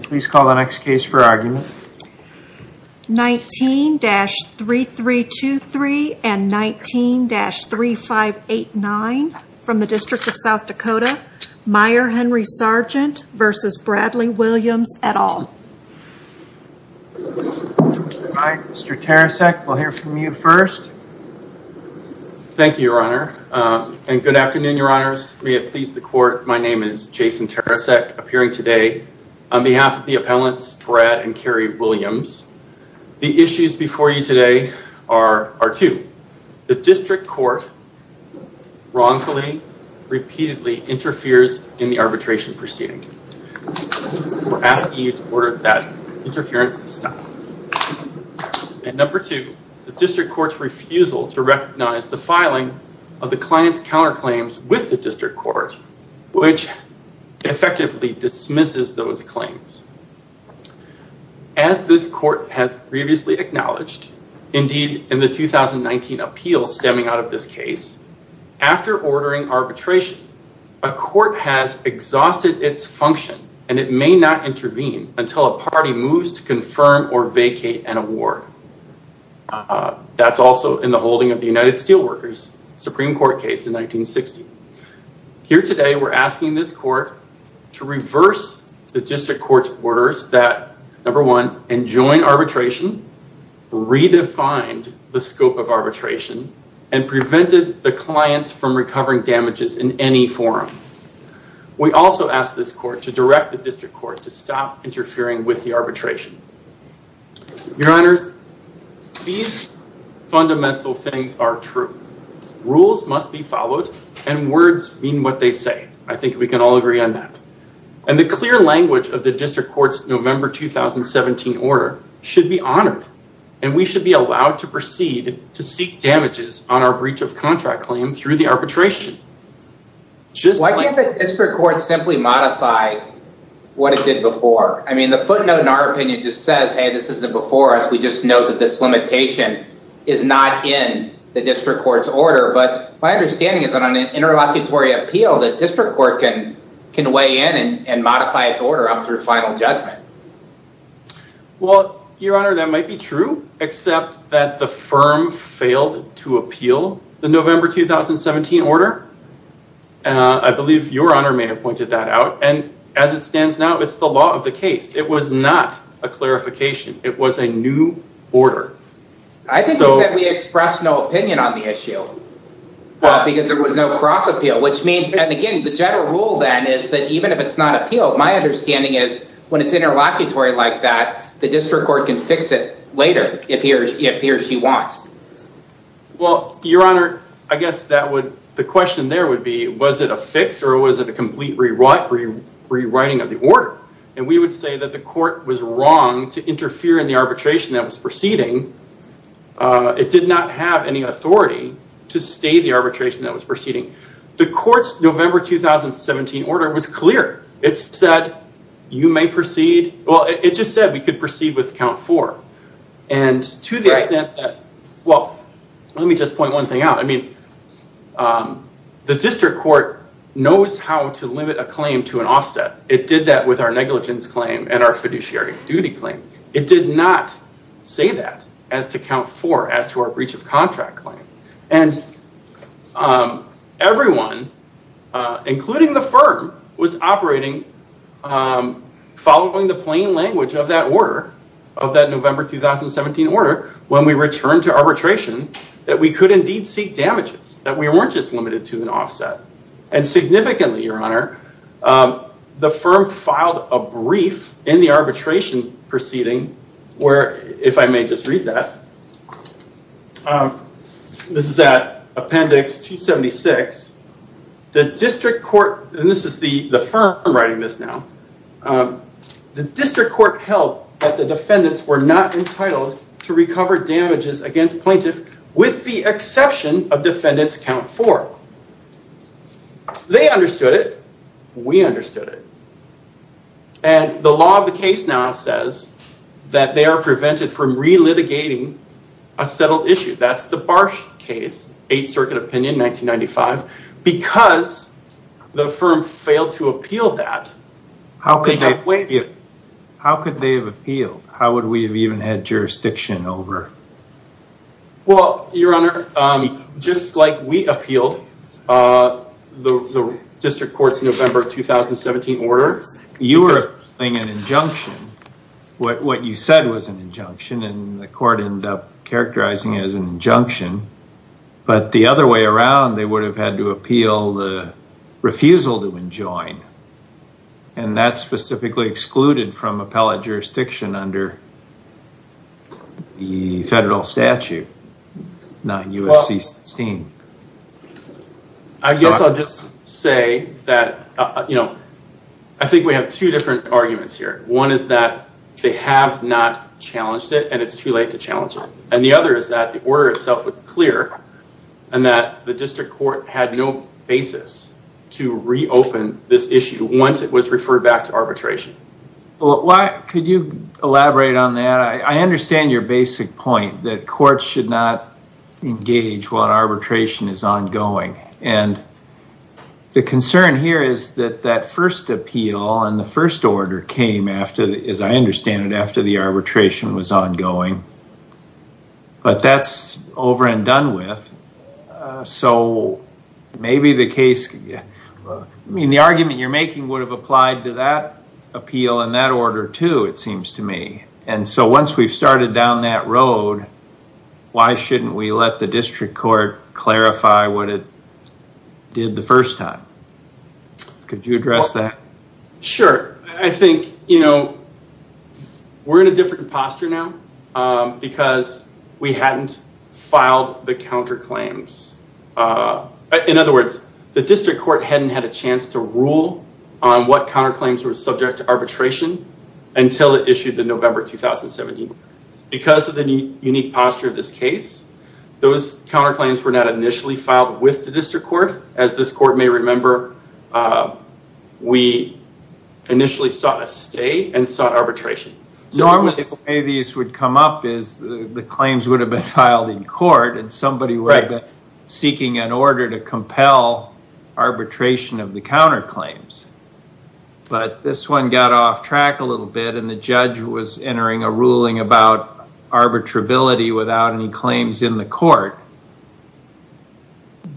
Please call the next case for argument. 19-3323 and 19-3589 from the District of South Dakota Meierhenry Sargent v. Bradley Williams, et al. All right Mr. Teresek we'll hear from you first. Thank you your honor and good afternoon your appellants Brad and Kerry Williams. The issues before you today are two. The district court wrongfully repeatedly interferes in the arbitration proceeding. We're asking you to order that interference to stop. And number two, the district court's refusal to recognize the filing of the client's counterclaims with the district court which effectively dismisses those claims. As this court has previously acknowledged, indeed in the 2019 appeal stemming out of this case, after ordering arbitration a court has exhausted its function and it may not intervene until a party moves to confirm or vacate an award. That's also in the holding of the United Steelworkers Supreme Court case in 1960. Here today we're asking this court to reverse the district court's that number one, enjoin arbitration, redefined the scope of arbitration, and prevented the clients from recovering damages in any form. We also ask this court to direct the district court to stop interfering with the arbitration. Your honors, these fundamental things are true. Rules must be followed and words mean what they say. I think we can all agree on that. And the clear language of the district court's November 2017 order should be honored and we should be allowed to proceed to seek damages on our breach of contract claims through the arbitration. Why can't the district court simply modify what it did before? I mean, the footnote in our opinion just says, hey, this isn't before us. We just know that this limitation is not in the district court's order. But my understanding is that on an interlocutory appeal, the district court can weigh in and modify its order up through final judgment. Well, your honor, that might be true, except that the firm failed to appeal the November 2017 order. I believe your honor may have pointed that out. And as it stands now, it's the law of the case. It was not a clarification. It was a new order. I think you said we expressed no opinion on the is that even if it's not appeal, my understanding is when it's interlocutory like that, the district court can fix it later if he or she wants. Well, your honor, I guess the question there would be, was it a fix or was it a complete rewriting of the order? And we would say that the court was wrong to interfere in the arbitration that was proceeding. It did not have any authority to stay the arbitration that was proceeding. The court's November 2017 order was clear. It said you may proceed. Well, it just said we could proceed with count four. And to the extent that, well, let me just point one thing out. I mean, the district court knows how to limit a claim to an offset. It did that with our negligence claim and our fiduciary duty claim. It did not say that as to count four as to our breach of everyone, including the firm, was operating following the plain language of that order, of that November 2017 order, when we returned to arbitration, that we could indeed seek damages, that we weren't just limited to an offset. And significantly, your honor, the firm filed a brief in the arbitration proceeding where, if I may just read that, this is at appendix 276, the district court, and this is the firm writing this now, the district court held that the defendants were not entitled to recover damages against plaintiff with the exception of defendants count four. They understood it. We understood it. And the law of the case now says that they are prevented from relitigating a settled issue. That's the Barsh case, Eighth Circuit opinion, 1995, because the firm failed to appeal that. How could they have appealed? How would we have even had jurisdiction over? Well, your honor, just like we appealed the district court's November 2017 order, you were playing an injunction. What you said was an injunction and the court ended up characterizing it as an injunction. But the other way around, they would have had to appeal the refusal to enjoin. And that's specifically excluded from appellate jurisdiction under the federal statute, 9 U.S.C. 16. I guess I'll just say that, you know, I think we have two different arguments here. One is that they have not challenged it and it's too late to challenge it. And the other is that the order itself was clear and that the district court had no basis to reopen this issue once it was referred back to arbitration. Well, could you elaborate on that? I understand your basic point that courts should not engage while arbitration is ongoing. And the concern here is that that first appeal and the first order came after, as I understand it, after the arbitration was ongoing. But that's over and done with. So maybe the case, I mean, the argument you're making would have applied to that appeal and that order, too, it seems to me. And so once we've started down that road, why shouldn't we let the district court clarify what it did the first time? Could you address that? Sure. I think, you know, we're in a different posture now because we hadn't filed the counterclaims. In other words, the district court hadn't had a rule on what counterclaims were subject to arbitration until it issued the November 2017. Because of the unique posture of this case, those counterclaims were not initially filed with the district court. As this court may remember, we initially sought a stay and sought arbitration. Normally, the way these would come up is the claims would have been filed in court and somebody would have been seeking an order to compel arbitration of the counterclaims. But this one got off track a little bit and the judge was entering a ruling about arbitrability without any claims in the court.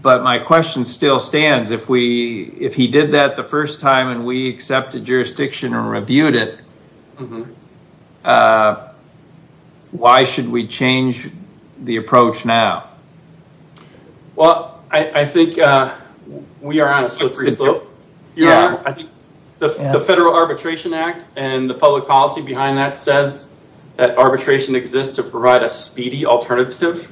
But my question still stands. If he did that the first time and we accepted jurisdiction and reviewed it, why should we change the approach now? Well, I think we are on a slippery slope. The Federal Arbitration Act and the public policy behind that says that arbitration exists to provide a speedy alternative,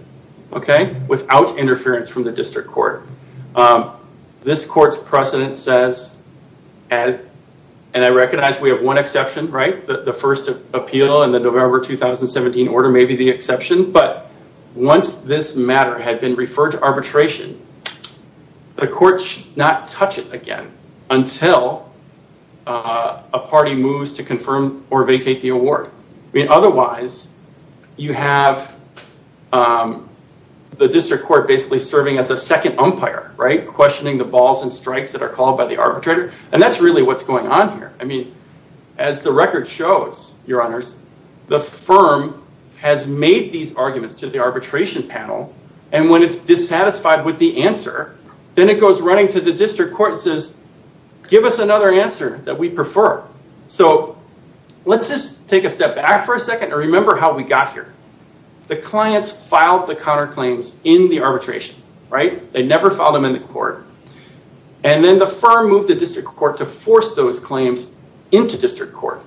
okay, without interference from the district court. This court's precedent says, and I recognize we have one order, maybe the exception, but once this matter had been referred to arbitration, the court should not touch it again until a party moves to confirm or vacate the award. Otherwise, you have the district court basically serving as a second umpire, right, questioning the balls and strikes that are called by the arbitrator. And that's really what's going on here. I mean, as the record shows, your honors, the firm has made these arguments to the arbitration panel and when it's dissatisfied with the answer, then it goes running to the district court and says, give us another answer that we prefer. So let's just take a step back for a second and remember how we got here. The clients filed the counterclaims in the arbitration, right? They district court.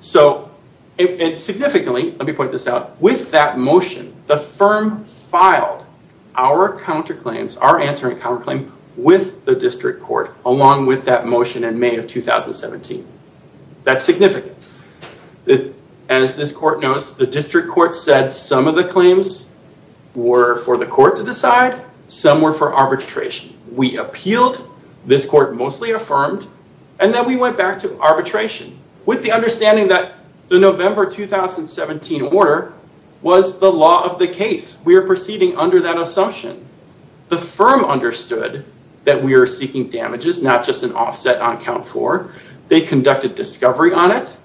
So significantly, let me point this out, with that motion, the firm filed our counterclaims, our answer and counterclaim with the district court along with that motion in May of 2017. That's significant. As this court knows, the district court said some of the claims were for the court to decide, some were for arbitration. We appealed, this court mostly affirmed, and then we went back to arbitration with the understanding that the November 2017 order was the law of the case. We are proceeding under that assumption. The firm understood that we are seeking damages, not just an offset on count four. They conducted discovery on it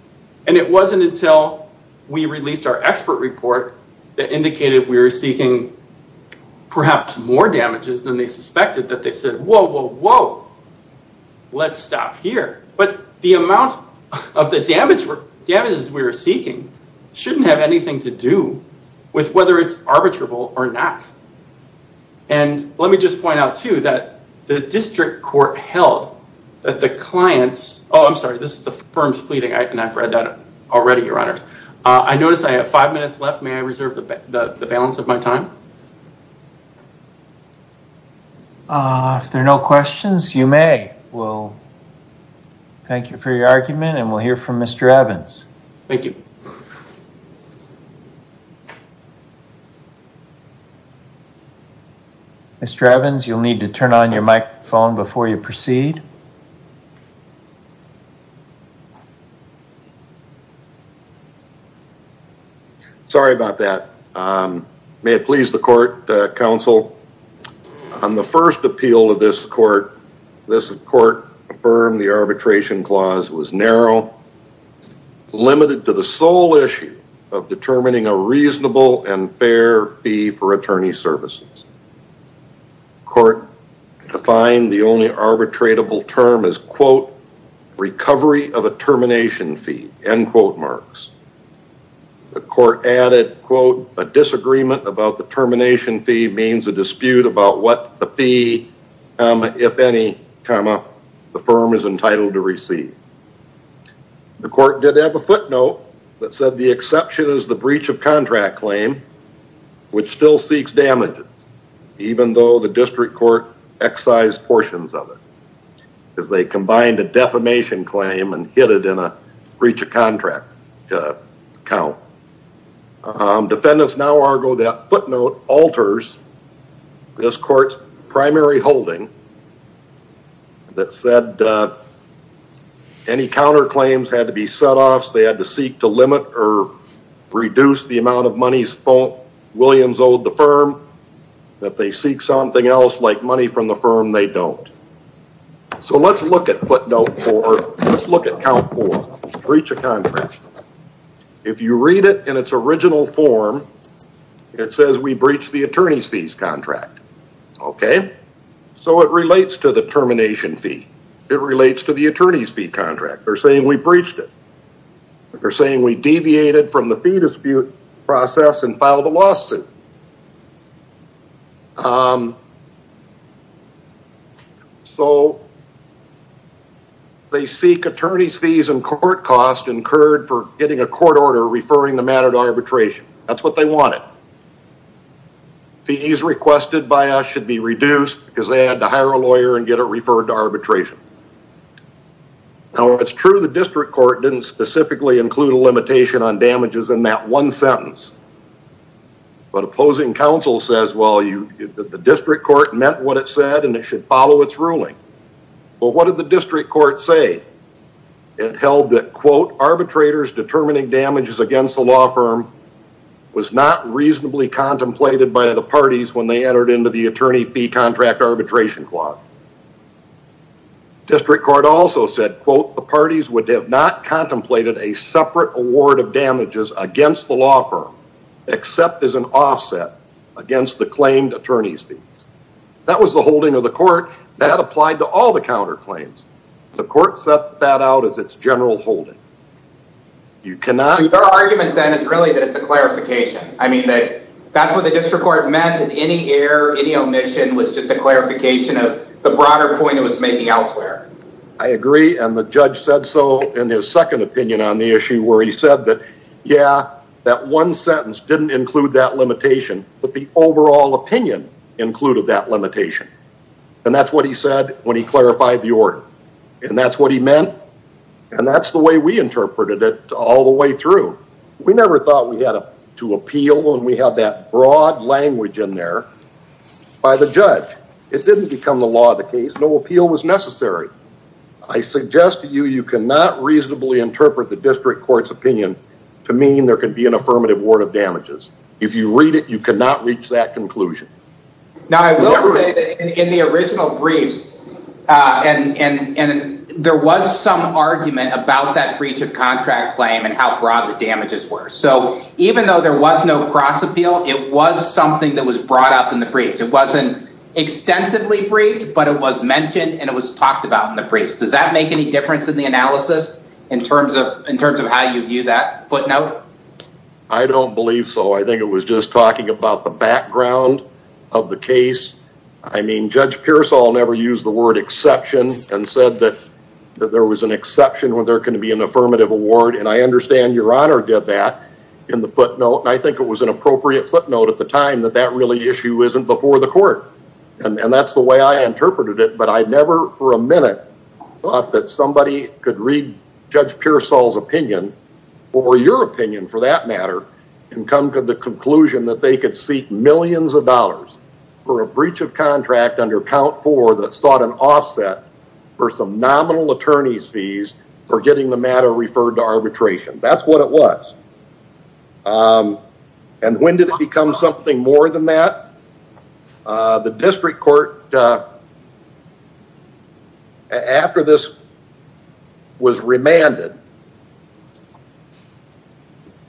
and it wasn't until we released our expert report that indicated we were seeking perhaps more damages than they suspected, that they said, whoa, whoa, whoa, let's stop here. But the amount of the damages we were seeking shouldn't have anything to do with whether it's arbitrable or not. And let me just point out too that the district court held that the clients, oh, I'm sorry, this is the firm's pleading, and I've read that already, your honors. I notice I have minutes left. May I reserve the balance of my time? If there are no questions, you may. We'll thank you for your argument and we'll hear from Mr. Evans. Thank you. Mr. Evans, you'll need to turn on your microphone before you proceed. Sorry about that. May it please the court, counsel, on the first appeal of this court, this court affirmed the arbitration clause was narrow, limited to the sole issue of determining a reasonable and fair fee for attorney services. Court defined the only arbitrable term as, quote, recovery of a termination fee, end quote marks. The court added, quote, a disagreement about the termination fee means a dispute about what the fee, if any, comma, the firm is entitled to receive. The court did have a footnote that said the exception is the breach of contract claim, which still seeks damages, even though the district court excised portions of it, because they combined a defamation claim and hit it in a breach of contract count. Defendants now argue that footnote alters this court's primary holding that said any counterclaims had to be set off, they had to seek to limit or reduce the amount of money Williams owed the firm, that they seek something else like money from the firm they don't. So let's look at footnote four, let's look at count four, breach of contract. If you read it in its original form, it says we breached the attorney's fees contract. Okay? So it relates to the termination fee. It relates to the attorney's fee contract. They're saying we breached it. They're saying we deviated from the fee dispute process and filed a lawsuit. So they seek attorney's fees and court costs incurred for getting a court order referring the matter to arbitration. That's what they wanted. Fees requested by us should be reduced because they had to hire a lawyer and get it referred to arbitration. Now it's true the district court didn't specifically include a limitation on damages in that one sentence, but opposing counsel says, well, the district court meant what it said and it should follow its ruling. Well, what did the district court say? It held that, quote, arbitrators determining damages against the law firm was not reasonably contemplated by the parties when they entered into the attorney fee contract arbitration clause. District court also said, quote, the parties would have not contemplated a separate award of damages against the law firm except as an offset against the claimed attorney's fees. That was the holding of the court that applied to all the counter claims. The court set that out as its general holding. You cannot- So your argument then is really that it's a clarification. I mean, that's what the district court meant and any error, any omission was just a clarification of the broader point it was making elsewhere. I agree. And the judge said so in his second opinion on the issue where he said that, yeah, that one sentence didn't include that limitation, but the overall opinion included that limitation. And that's what he said when he clarified the order. And that's what he meant. And that's the way we interpreted it all the way through. We never thought we had to appeal when we had that broad language in there by the judge. It didn't become the law of the case. No I suggest to you, you cannot reasonably interpret the district court's opinion to mean there can be an affirmative award of damages. If you read it, you cannot reach that conclusion. Now, I will say that in the original briefs and there was some argument about that breach of contract claim and how broad the damages were. So even though there was no cross appeal, it was something that was brought up in the briefs. It wasn't extensively briefed, but it was mentioned and it was talked about in the briefs. Does that make any difference in the analysis in terms of, in terms of how you view that footnote? I don't believe so. I think it was just talking about the background of the case. I mean, judge Pearsall never used the word exception and said that there was an exception when there can be an affirmative award. And I understand your honor did that in the footnote. And I think it was an appropriate footnote at the time that that really issue isn't before the court. And that's the way I interpreted it, but I never for a minute thought that somebody could read judge Pearsall's opinion, or your opinion for that matter, and come to the conclusion that they could seek millions of dollars for a breach of contract under count four that sought an offset for some nominal attorney's fees for getting the matter referred to arbitration. That's what it was. And when did it become something more than that? The district court, after this was remanded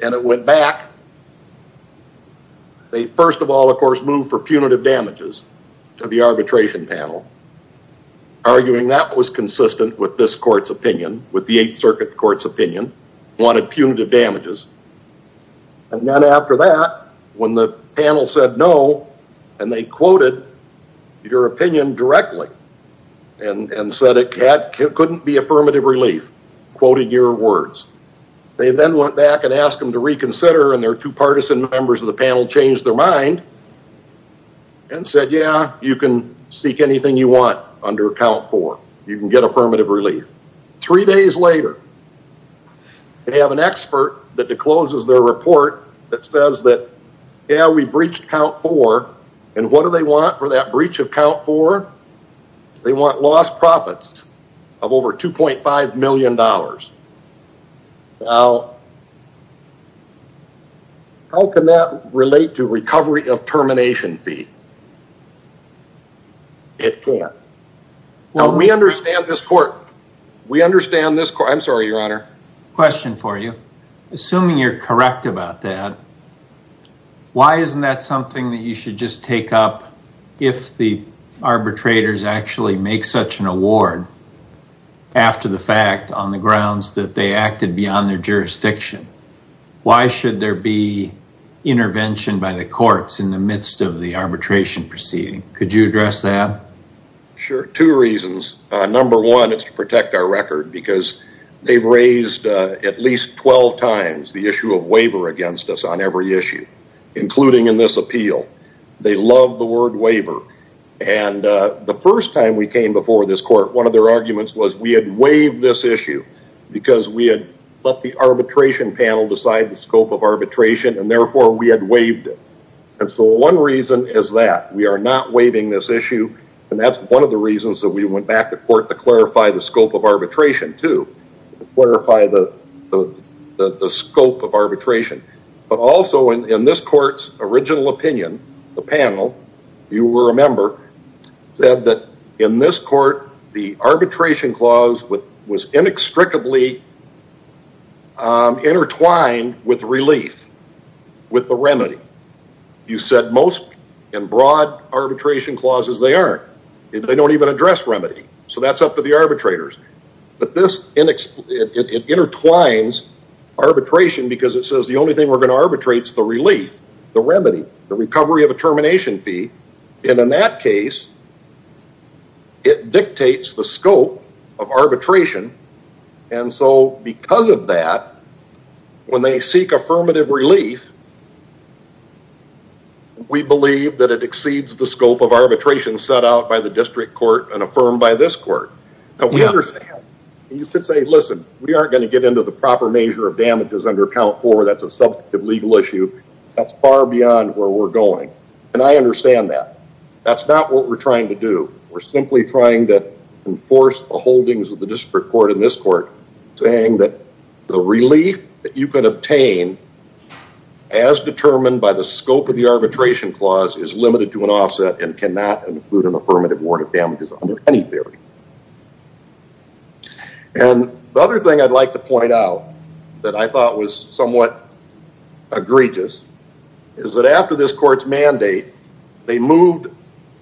and it went back, they first of all, of course, moved for punitive damages to the arbitration panel, arguing that was consistent with this court's opinion, with the eighth circuit court's opinion, wanted punitive damages. And then after that, when the panel said no, and they quoted your opinion directly, and said it couldn't be affirmative relief, quoting your words, they then went back and asked them to reconsider and their two partisan members of the panel changed their mind and said, yeah, you can seek anything you want under count four, you can get affirmative relief. Three days later, they have an expert that discloses their report that says that, yeah, we breached count four, and what do they want for that breach of count four? They want lost profits of over $2.5 million. Now, how can that relate to recovery of termination fee? It can't. We understand this court. We understand this court. I'm sorry, your honor. Question for you. Assuming you're correct about that, why isn't that something that you should just take up if the arbitrators actually make such an award after the fact on the grounds that they acted beyond their jurisdiction? Why should there be intervention by the courts in the midst of the arbitration proceeding? Could you address that? Sure. Two reasons. Number one, it's to protect our record, because they've raised at least 12 times the issue of waiver against us on every issue, including in this appeal. They love the word waiver. And the first time we came before this court, one of their arguments was we had waived this issue because we had let the arbitration panel decide the scope of arbitration, and therefore, we had waived it. And so one reason is that. We are not waiving this issue, and that's one of the reasons that we went back to court to clarify the scope of arbitration, too, to clarify the scope of arbitration. But also in this court's original opinion, the panel, you will remember, said that in this court, the arbitration clause was inextricably intertwined with relief, with the remedy. You said most in broad arbitration clauses, they aren't. They don't even address remedy. So that's up to the arbitrators. But this, it intertwines arbitration because it says the only thing we're going to arbitrate is the relief, the remedy, the recovery of a termination fee. And in that case, it dictates the scope of arbitration. And so because of that, when they seek affirmative relief, we believe that it exceeds the scope of arbitration set out by the district court and affirmed by this court. But we understand. You could say, listen, we aren't going to get the proper measure of damages under count four. That's a subject of legal issue. That's far beyond where we're going. And I understand that. That's not what we're trying to do. We're simply trying to enforce the holdings of the district court in this court, saying that the relief that you could obtain as determined by the scope of the arbitration clause is limited to an offset and cannot include an affirmative warrant of damages under any theory. And the other thing I'd like to point out that I thought was somewhat egregious is that after this court's mandate, they moved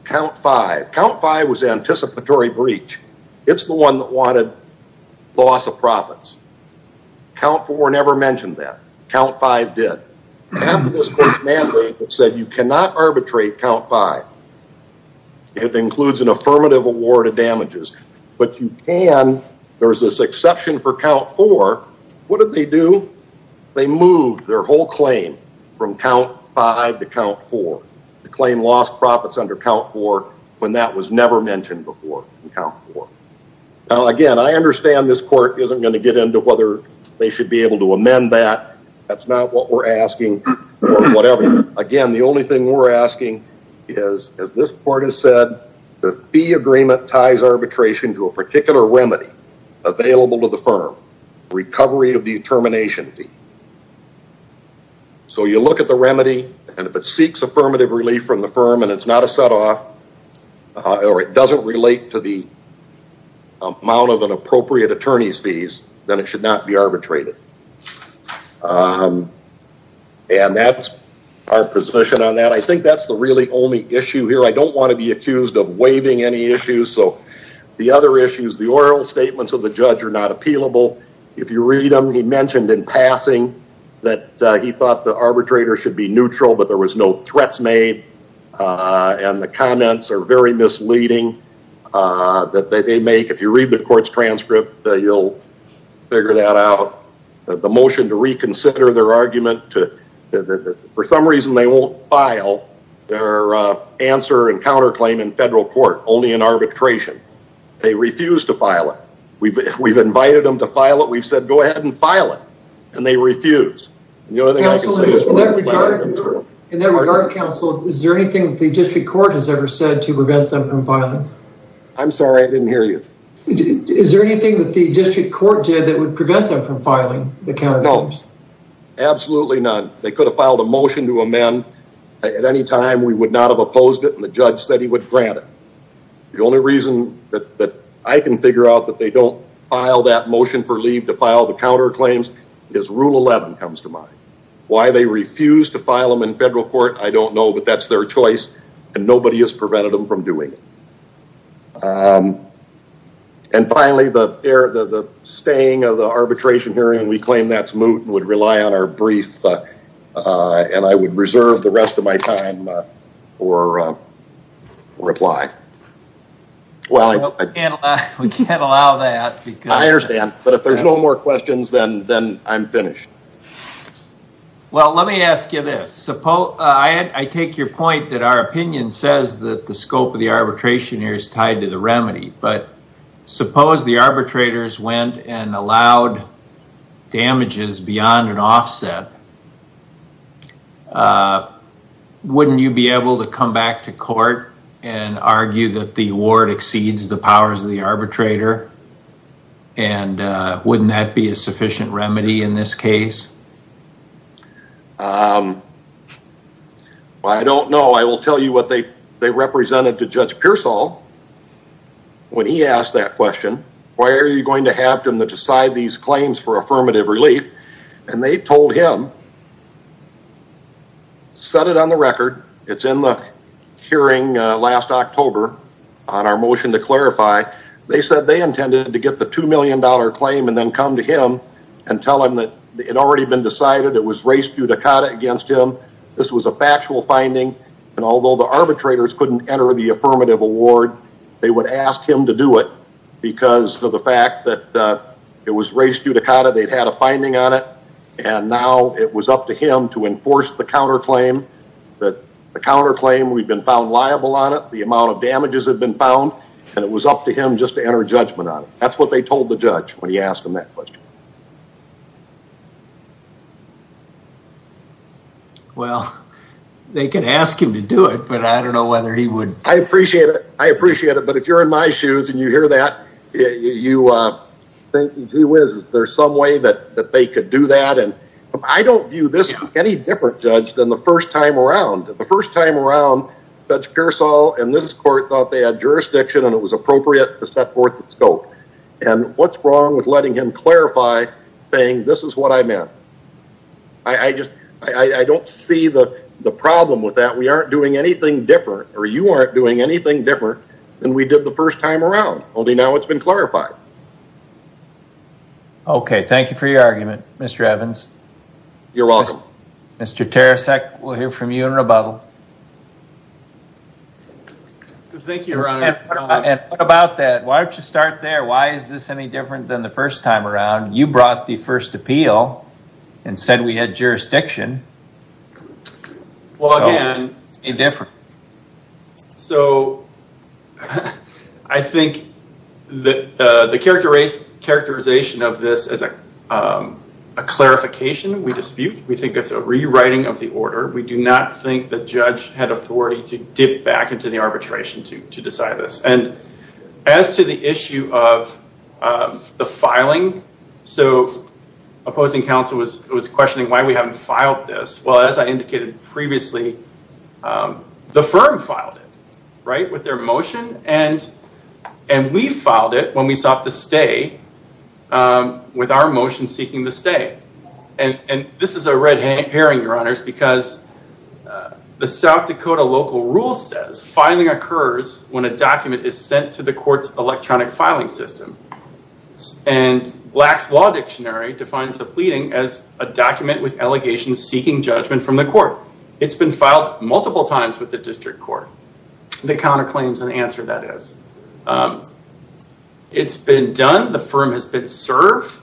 count five. Count five was an anticipatory breach. It's the one that wanted loss of profits. Count four never mentioned that. Count five did. After this court's mandate that said you cannot arbitrate count five, it includes an affirmative award of damages, but you can, there's this exception for count four. What did they do? They moved their whole claim from count five to count four. The claim lost profits under count four when that was never mentioned before in count four. Now, again, I understand this court isn't going to get into whether they should be able to amend that. That's not what we're asking or whatever. Again, the only thing we're asking is, as this court has said, the fee agreement ties arbitration to a particular remedy available to the firm, recovery of the termination fee. So you look at the remedy and if it seeks affirmative relief from the firm and it's not a set off or it doesn't relate to the amount of an appropriate attorney's fees, then it should not be arbitrated. And that's our position on that. I think that's the really only issue here. I don't want to be accused of waiving any issues. So the other issues, the oral statements of the judge are not appealable. If you read them, he mentioned in passing that he thought the arbitrator should be neutral, but there was no threats made and the comments are very misleading that they make. You read the court's transcript, you'll figure that out. The motion to reconsider their argument, for some reason they won't file their answer and counterclaim in federal court, only in arbitration. They refuse to file it. We've invited them to file it. We've said, go ahead and file it. And they refuse. In that regard, counsel, is there anything the district court has ever said to prevent them from filing? I'm sorry, I didn't hear you. Is there anything that the district court did that would prevent them from filing the counterclaims? No, absolutely none. They could have filed a motion to amend at any time. We would not have opposed it and the judge said he would grant it. The only reason that I can figure out that they don't file that motion for leave to file the counterclaims is rule 11 comes to mind. Why they refuse to file them in federal court, I don't know, but that's their choice and nobody has prevented them from doing it. And finally, the staying of the arbitration hearing, we claim that's moot and would rely on our brief and I would reserve the rest of my time for reply. We can't allow that. I understand, but if there's no more questions, then I'm finished. Well, let me ask you this. I take your point that our opinion says that the scope of the arbitration here is tied to the remedy, but suppose the arbitrators went and allowed damages beyond an offset, wouldn't you be able to come back to court and argue that the award exceeds the powers of the arbitrator and wouldn't that be a sufficient remedy in this case? Well, I don't know. I will tell you what they represented to Judge Pearsall when he asked that question. Why are you going to have them decide these claims for affirmative relief? And they told him, set it on the record. It's in the hearing last October on our motion to clarify. They said they intended to get the $2 million claim and then come to him and tell him that it had already been decided it was res judicata against him. This was a factual finding and although the arbitrators couldn't enter the affirmative award, they would ask him to do it because of the fact that it was res judicata. They'd had a finding on it and now it was up to him to enforce the counterclaim. The counterclaim, we've been found liable on it. The amount of damages had been found and it was up to him just to enter judgment on it. That's what they told the judge when he asked him that question. Well, they can ask him to do it, but I don't know whether he would. I appreciate it. I appreciate it. But if you're in my shoes and you hear that, you think gee whiz, is there some way that they could do that? I don't view this any different, Judge, than the first time around. The first time around, Judge Pearsall and this court thought they had jurisdiction and it was appropriate to set forth the scope. And what's wrong with letting him clarify saying this is what I meant? I don't see the problem with that. We aren't doing anything different or you aren't doing anything different than we did the first time around. Only now it's been clarified. Okay. Thank you for your argument, Mr. Evans. You're welcome. Mr. Teresek, we'll hear from you in rebuttal. Thank you, Your Honor. And what about that? Why don't you start there? Why is this any different than the first time around? You brought the first appeal and said we had jurisdiction. Well, again... So I think the characterization of this is a clarification we dispute. We think it's a rewriting of the order. We do not think the judge had authority to dip back into the to decide this. And as to the issue of the filing, so opposing counsel was questioning why we haven't filed this. Well, as I indicated previously, the firm filed it, right, with their motion. And we filed it when we sought the stay with our motion seeking the stay. And this is a local rule says filing occurs when a document is sent to the court's electronic filing system. And Black's Law Dictionary defines the pleading as a document with allegations seeking judgment from the court. It's been filed multiple times with the district court. The counterclaim is an answer, that is. It's been done. The firm has been served.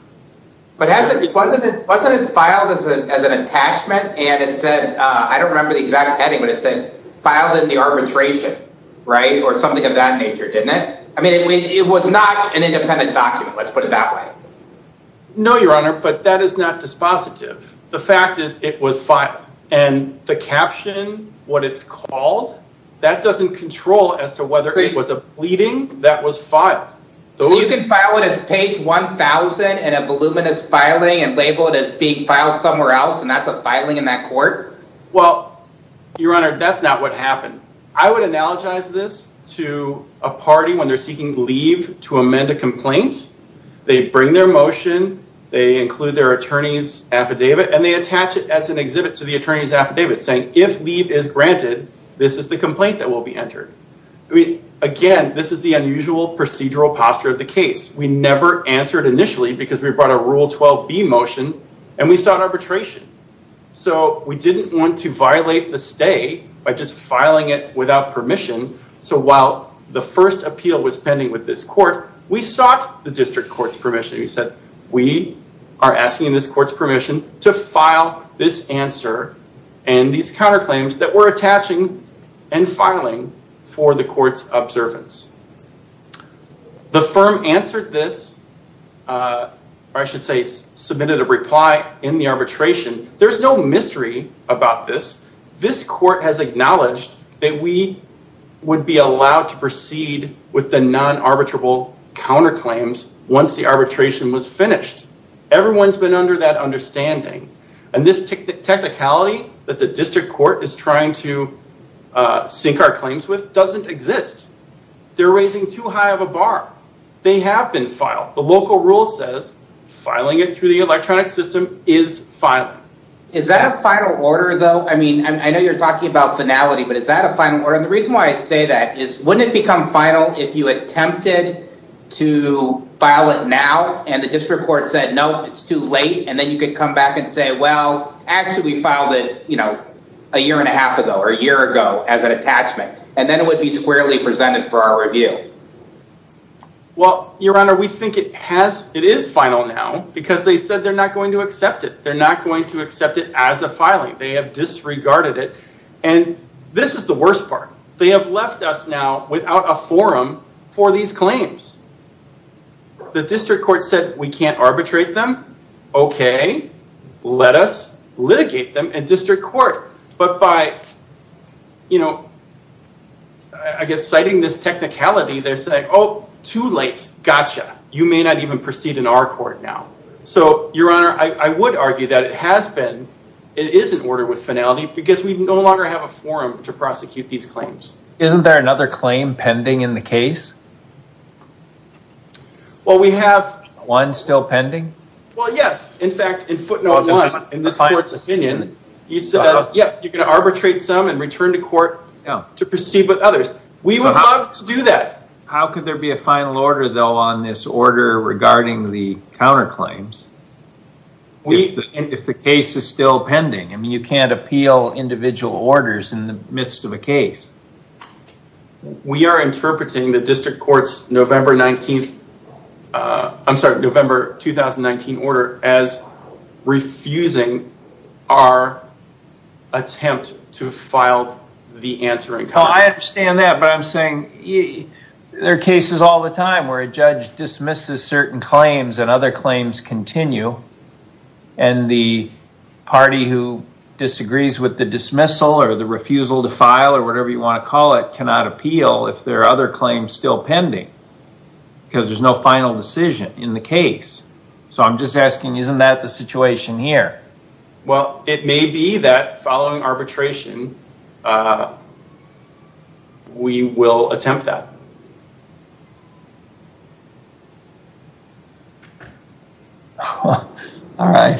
But wasn't it filed as an attachment and it said, I don't remember the exact heading, but it said filed in the arbitration, right, or something of that nature, didn't it? I mean, it was not an independent document, let's put it that way. No, Your Honor, but that is not dispositive. The fact is it was filed. And the caption, what it's called, that doesn't control as to whether it was a pleading that was filed. So you can file it as page 1000 in a voluminous filing and label it as being filed somewhere else and that's a filing in that court? Well, Your Honor, that's not what happened. I would analogize this to a party when they're seeking leave to amend a complaint. They bring their motion, they include their attorney's affidavit, and they attach it as an exhibit to the attorney's affidavit saying, if leave is granted, this is the complaint that will be entered. Again, this is the unusual procedural posture of the case. We never answered initially because we brought a Rule 12b motion and we sought arbitration. So we didn't want to violate the stay by just filing it without permission. So while the first appeal was pending with this court, we sought the district court's permission. We said, we are asking this court's permission to file this answer and these counterclaims that we're attaching and filing for the court's I should say submitted a reply in the arbitration. There's no mystery about this. This court has acknowledged that we would be allowed to proceed with the non-arbitrable counterclaims once the arbitration was finished. Everyone's been under that understanding and this technicality that the district court is trying to sink our claims with doesn't exist. They're raising too high of a bar. They have been filed. The local rule says filing it through the electronic system is filing. Is that a final order though? I mean, I know you're talking about finality, but is that a final order? And the reason why I say that is wouldn't it become final if you attempted to file it now and the district court said, no, it's too late. And then you could come back and say, well, actually we filed it, you know, a year and a half ago or a year ago as an attachment. And then it would be squarely presented for our review. Well, your honor, we think it has, it is final now because they said they're not going to accept it. They're not going to accept it as a filing. They have disregarded it. And this is the worst part. They have left us now without a forum for these claims. The district court said we can't I guess citing this technicality, they're saying, oh, too late. Gotcha. You may not even proceed in our court now. So your honor, I would argue that it has been, it is an order with finality because we no longer have a forum to prosecute these claims. Isn't there another claim pending in the case? Well, we have one still pending. Well, yes. In fact, in footnote one, in this court's opinion, you said, yep, you can arbitrate some and return to court to proceed with others. We would love to do that. How could there be a final order though on this order regarding the counterclaims? If the case is still pending, I mean, you can't appeal individual orders in the midst of a case. We are interpreting the district court's November 19th, I'm sorry, November 2019 order as refusing our attempt to file the answer. I understand that, but I'm saying there are cases all the time where a judge dismisses certain claims and other claims continue and the party who disagrees with the dismissal or the refusal to file or whatever you want to call it cannot appeal if there are other claims still pending because there's no final decision in the case. So I'm just asking, isn't that the situation here? Well, it may be that following arbitration, we will attempt that. All right.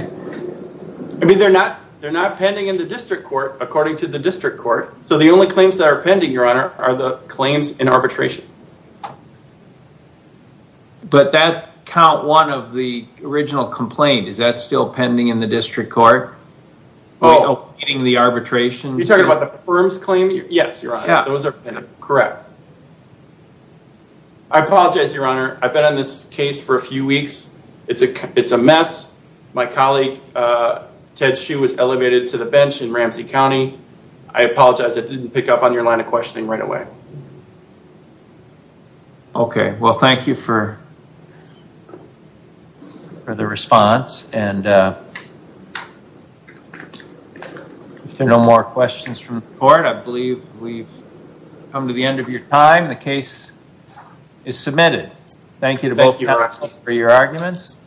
I mean, they're not pending in the district court according to the district court. So the only claims that are pending, your honor, are the claims in arbitration. But that count one of the original complaint, is that still pending in the district court? Oh, you're talking about the firm's claim? Yes, your honor. Those are correct. I apologize, your honor. I've been on this case for a few weeks. It's a mess. My colleague, Ted Hsu was elevated to the bench in Ramsey County. I apologize. I didn't pick up on your line of questioning right away. Okay. Well, thank you for the response. And if there are no more questions from the court, I believe we've come to the end of your time. The case is submitted. Thank you to both counsel for your arguments.